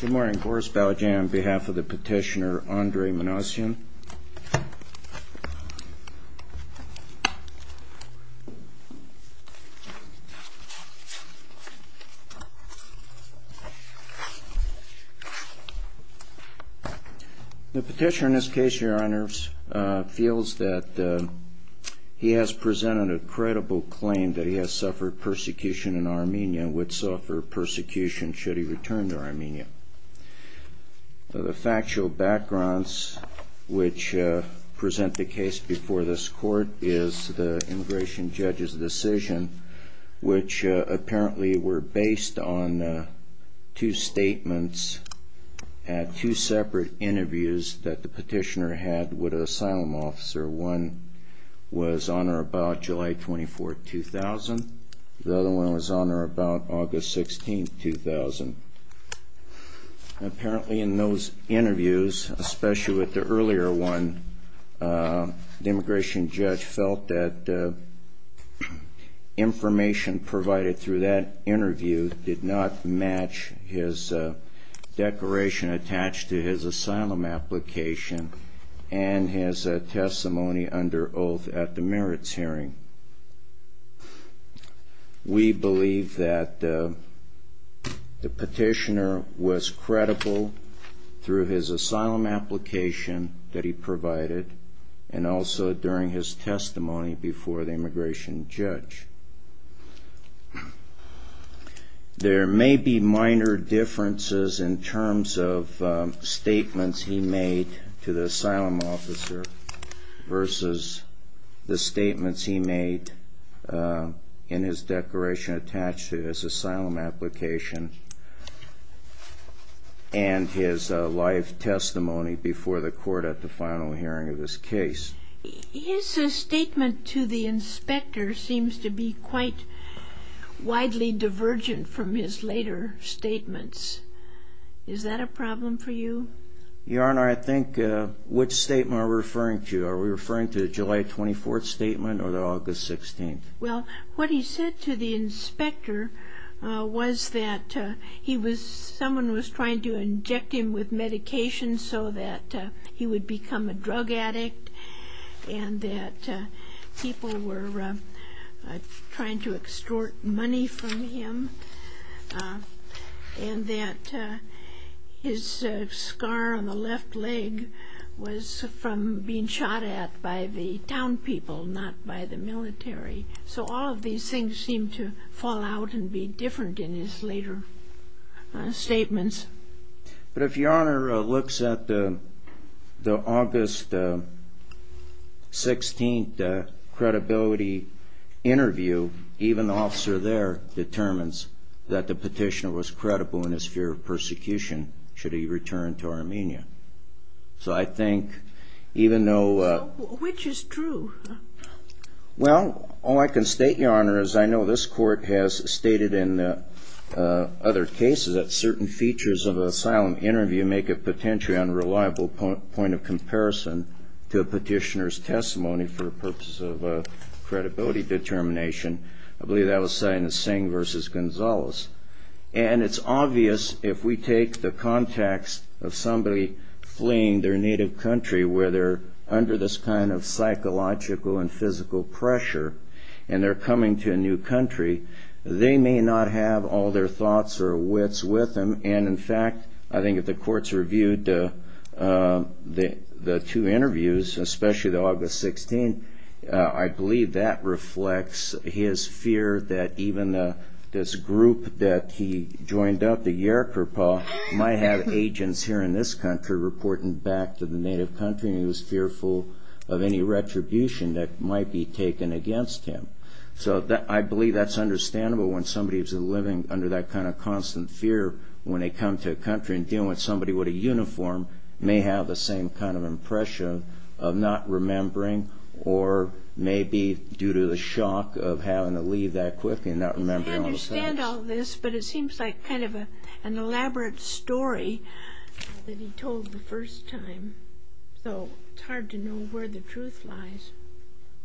Good morning. Boris Baljan on behalf of the petitioner Andrei Manasyan. The petitioner in this case, your honors, feels that he has presented a credible claim that he has suffered persecution in Armenia and would suffer persecution should he return to Armenia. The factual backgrounds which present the case before this court is the immigration judge's decision, which apparently were based on two statements at two separate interviews that the petitioner had with an asylum officer. One was on or about July 24, 2000. The other one was on or about August 16, 2000. Apparently in those interviews, especially with the earlier one, the immigration judge felt that the information provided through that interview did not match his declaration attached to his asylum application and his testimony under oath at the merits hearing. We believe that the petitioner was credible through his asylum application that he provided and also during his testimony before the immigration judge. There may be minor differences in terms of statements he made to the asylum officer versus the asylum application and his live testimony before the court at the final hearing of this case. His statement to the inspector seems to be quite widely divergent from his later statements. Is that a problem for you? Your honor, I think which statement are we referring to? Are we referring to the July 24 statement or the was that he was someone was trying to inject him with medication so that he would become a drug addict and that people were trying to extort money from him and that his scar on the left leg was from being shot at by the town people not by the military. So all of these things seem to fall out and be different in his later statements. But if your honor looks at the August 16th credibility interview even the officer there determines that the petitioner was credible in his fear of persecution should he return to Armenia. So I think even though... Which is true? Well all I can state your honor is I know this court has stated in other cases that certain features of an asylum interview make a potentially unreliable point of comparison to a petitioner's testimony for purposes of credibility determination. I believe that was said in Singh versus Gonzales. And it's obvious if we take the context of somebody fleeing their native country where they're under this kind of psychological and physical pressure and they're coming to a new country they may not have all their thoughts or wits with them. And in fact I think if the courts reviewed the two interviews especially the August 16th I believe that reflects his fear that even this group that he joined up the Yerkurpa might have agents here in this country reporting back to the native country and he was fearful of any retribution that might be taken against him. So that I believe that's understandable when somebody is living under that kind of constant fear when they come to a country and dealing with somebody with a uniform may have the same kind of impression of not remembering or maybe due to the shock of having to leave that quickly and not remembering all the things. I understand all this but it seems like kind of an first time so it's hard to know where the truth lies.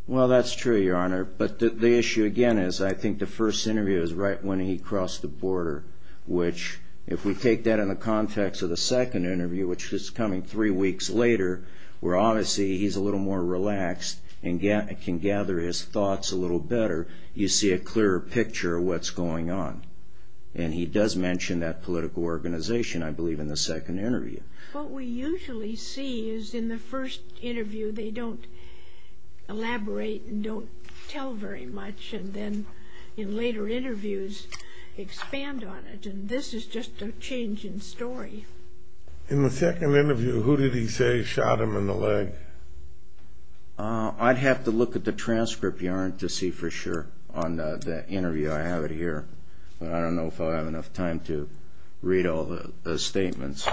Well that's true Your Honor but the issue again is I think the first interview is right when he crossed the border which if we take that in the context of the second interview which is coming three weeks later where obviously he's a little more relaxed and can gather his thoughts a little better you see a clearer picture of what's going on. And he does mention that political organization I believe in the usually see is in the first interview they don't elaborate and don't tell very much and then in later interviews expand on it and this is just a change in story. In the second interview who did he say shot him in the leg? I'd have to look at the transcript Your Honor to see for sure on the interview I have it here but I don't know if I have enough time to read all the statements.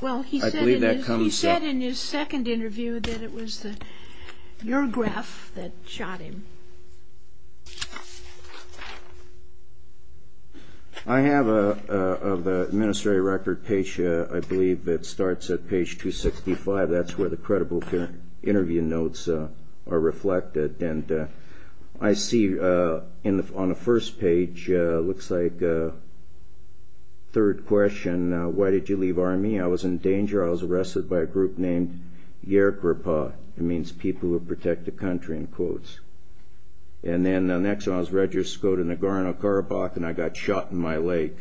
Well he said in his second interview that it was your graph that shot him. I have of the ministry record page I believe that starts at page 265 that's where the credible interview notes are reflected and I see on the first page looks like a third question why did you leave army I was in danger I was arrested by a group named Yerkerpa it means people who protect the country in quotes and then the next I was registered in Nagorno-Karabakh and I got shot in my leg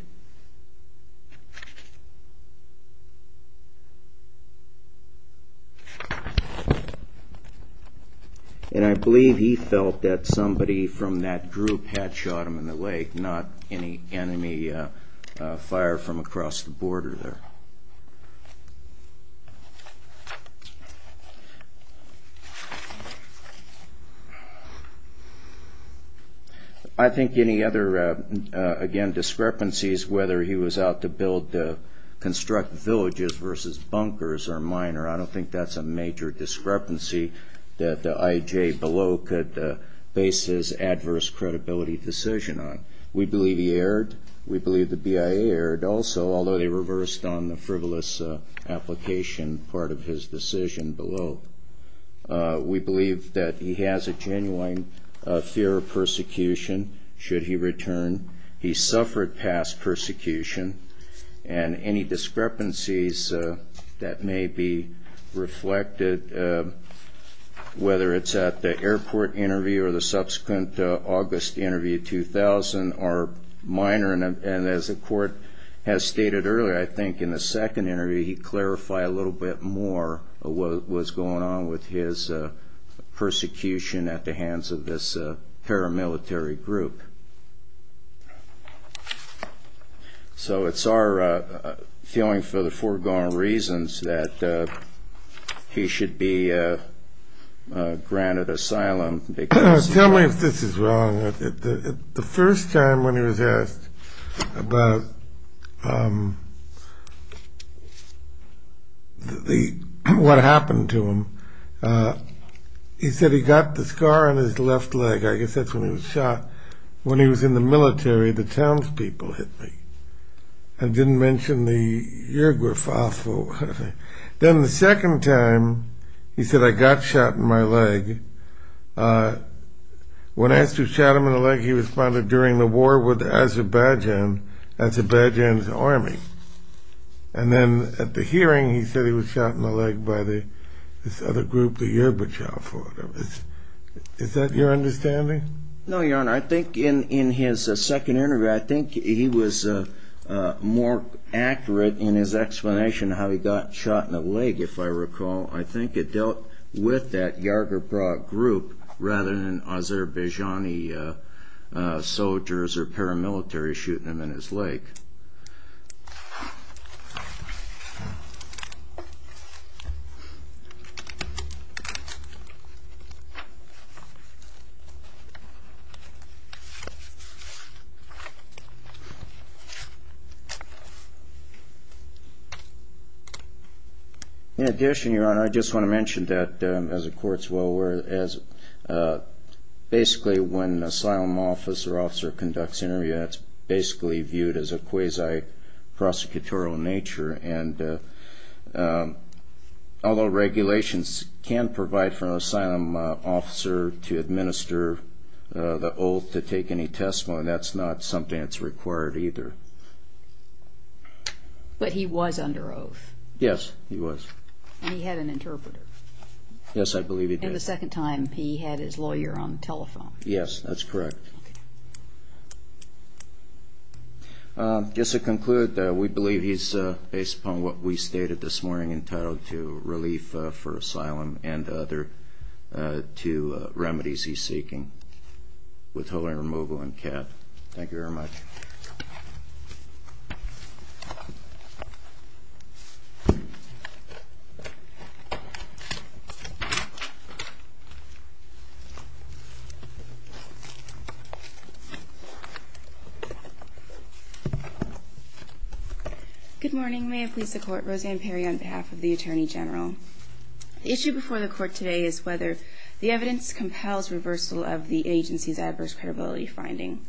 and I believe he felt that enemy fire from across the border. I think any other discrepancies whether he was out to build the construct villages versus bunkers are minor I don't think that's a major discrepancy that the IJ below could base his adverse credibility decision on. We believe he erred, we believe the BIA erred also although they reversed on the frivolous application part of his decision below. We believe that he has a genuine fear of persecution should he return. He suffered past persecution and any discrepancies that may be reflected whether it's at the airport interview or the subsequent August interview 2000 are minor and as the court has stated earlier I think in the second interview he clarified a little bit more what was going on with his persecution at the hands of this paramilitary group. So it's our feeling for the foregone reasons that he should be granted asylum. Tell me if this is wrong. The first time when he was asked about what happened to him he said he got the scar on his left leg I guess that's when he was shot. When he was in the military the townspeople hit me. I didn't mention the paragraph. Then the second time he said I got shot in my leg. When asked who shot him in the leg he responded during the war with Azerbaijan, Azerbaijan's army. And then at the hearing he said he was shot in the leg by this other group. Is that your understanding? No your honor I think in his second interview I think he was more accurate in his explanation how he got shot in the leg if I recall. I think it dealt with that Yagurbrag group rather than Azerbaijani soldiers or paramilitary shooting him in In addition your honor I just want to mention that as the courts well aware basically when an asylum officer conducts an interview it's basically viewed as a quasi-prosecutorial nature and although regulations can provide for an asylum officer to administer the oath to take any testimony that's not something that's required either. But he was under oath? Yes he was. And he had an interpreter? Yes I believe he did. And the second time he had his lawyer on the telephone? Yes that's correct. Just to conclude we believe he's based upon what we stated this morning entitled to relief for asylum and other two remedies he's seeking. Withholding removal and cap. Thank you very much. Good morning. May it please the court. Roseanne Perry on behalf of the Attorney General. The issue before the court today is whether the evidence compels reversal of the agency's adverse credibility finding.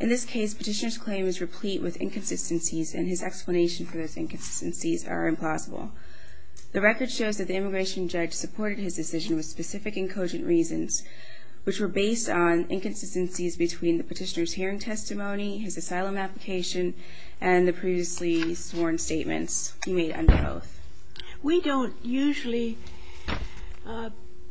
In this case petitioner's claim is replete with inconsistencies and his explanation for those inconsistencies are implausible. The record shows that the immigration judge supported his decision with specific and cogent reasons which were based on inconsistencies between the petitioner's hearing testimony, his asylum application and the previously sworn statements he made under oath. We don't usually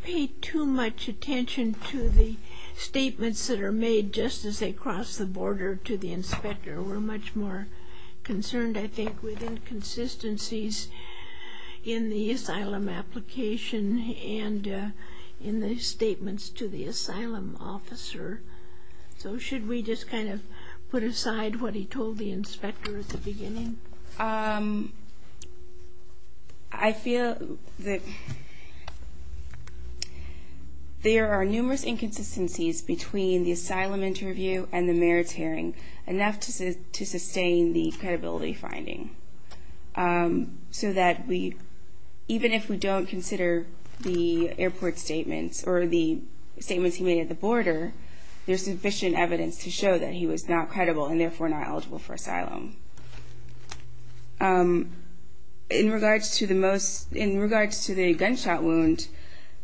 pay too much attention to the statements that are made just as they cross the border to the inspector. We're much more concerned I think with inconsistencies in the asylum application and in the statements to the asylum officer. So should we just kind of put aside what he told the inspector at the beginning? I feel that there are numerous inconsistencies between the asylum interview and the mayor's hearing enough to sustain the credibility finding so that we even if we don't consider the airport statements or the statements he made at the border there's sufficient evidence to show that he was not credible and therefore not eligible for asylum. In regards to the most, in regards to the gunshot wound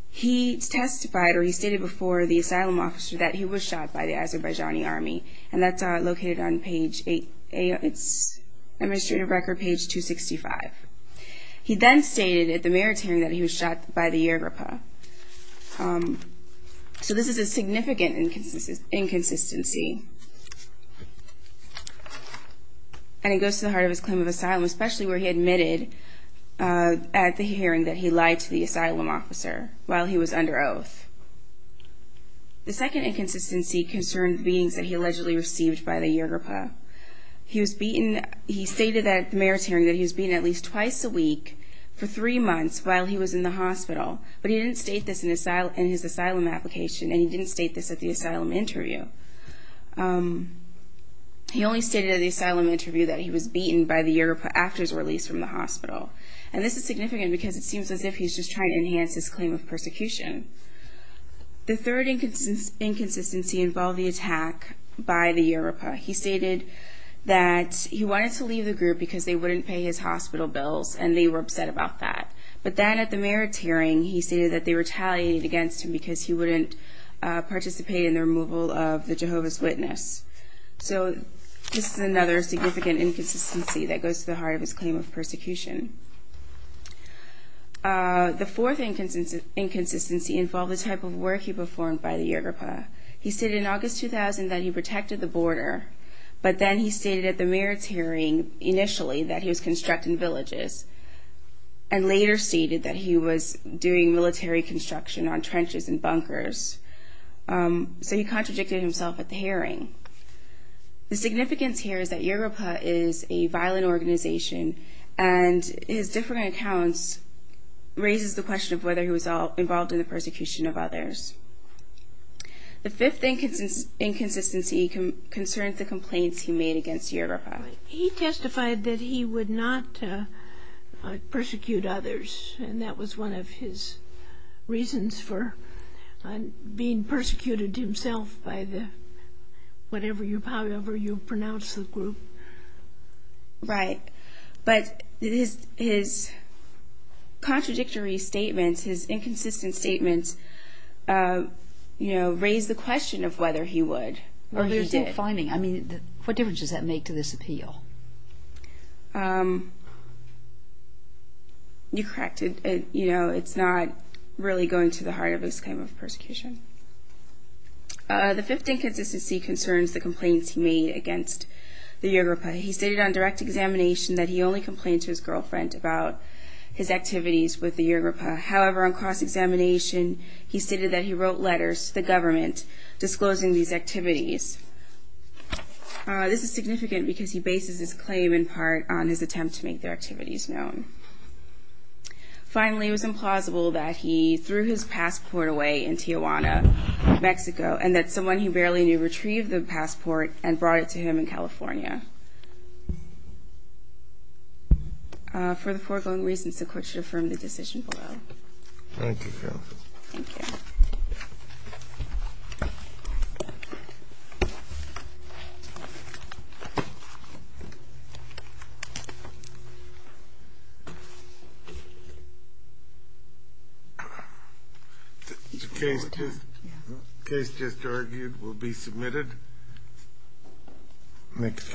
he testified or he stated before the asylum officer that he was shot by the Azerbaijani army and that's located on page 8, it's administrative record page 265. He then stated at the mayor's hearing that he was shot by the Yagurpa. So this is a significant inconsistency and it goes to the heart of his claim of asylum especially where he admitted at the hearing that he lied to the asylum officer while he was under oath. The second inconsistency concerned beatings that he allegedly received by the Yagurpa. He stated at the mayor's hearing that he was beaten at least twice a week for three months while he was in the hospital but he didn't state this in his asylum application and he didn't state this at the asylum interview. He only stated at the asylum interview that he was beaten by the Yagurpa after his release from the hospital and this is significant because it seems as if he's just trying to enhance his claim of persecution. The third inconsistency involved the attack by the Yagurpa. He stated that he wanted to leave the group because they wouldn't pay his hospital bills and they were upset about that. But then at the mayor's hearing he stated that they retaliated against him because he wouldn't participate in the removal of the Jehovah's Witness. So this is another significant inconsistency that goes to the heart of his claim of persecution. The fourth inconsistency involved the type of work he performed by the Yagurpa. He stated in August 2000 that he protected the border but then he stated at the mayor's hearing initially that he was constructing villages and later stated that he was doing military construction on trenches and bunkers. So he contradicted himself at the hearing. The significance here is that Yagurpa is a violent organization and his different accounts raises the question of whether he was involved in the persecution of others. The fifth inconsistency concerns the complaints he made against Yagurpa. He testified that he would not persecute others and that was one of his reasons for being persecuted himself by the whatever you pronounce the group. But his contradictory statements, his inconsistent statements, raise the question of whether he would. What difference does that make to this appeal? You're correct. It's not really going to the heart of his claim of persecution. The fifth inconsistency concerns the complaints he made against the Yagurpa. He stated on direct examination that he only complained to his girlfriend about his activities with the Yagurpa. However, on cross-examination, he stated that he wrote letters to the government disclosing these activities. This is significant because he bases his claim in part on his attempt to make their activities known. Finally, it was implausible that he threw his passport away in Tijuana, Mexico, and that someone he barely knew retrieved the passport and brought it to him in California. For the foregoing reasons, the court should affirm the decision below. Thank you, counsel. Thank you. The case just argued will be submitted. Next case.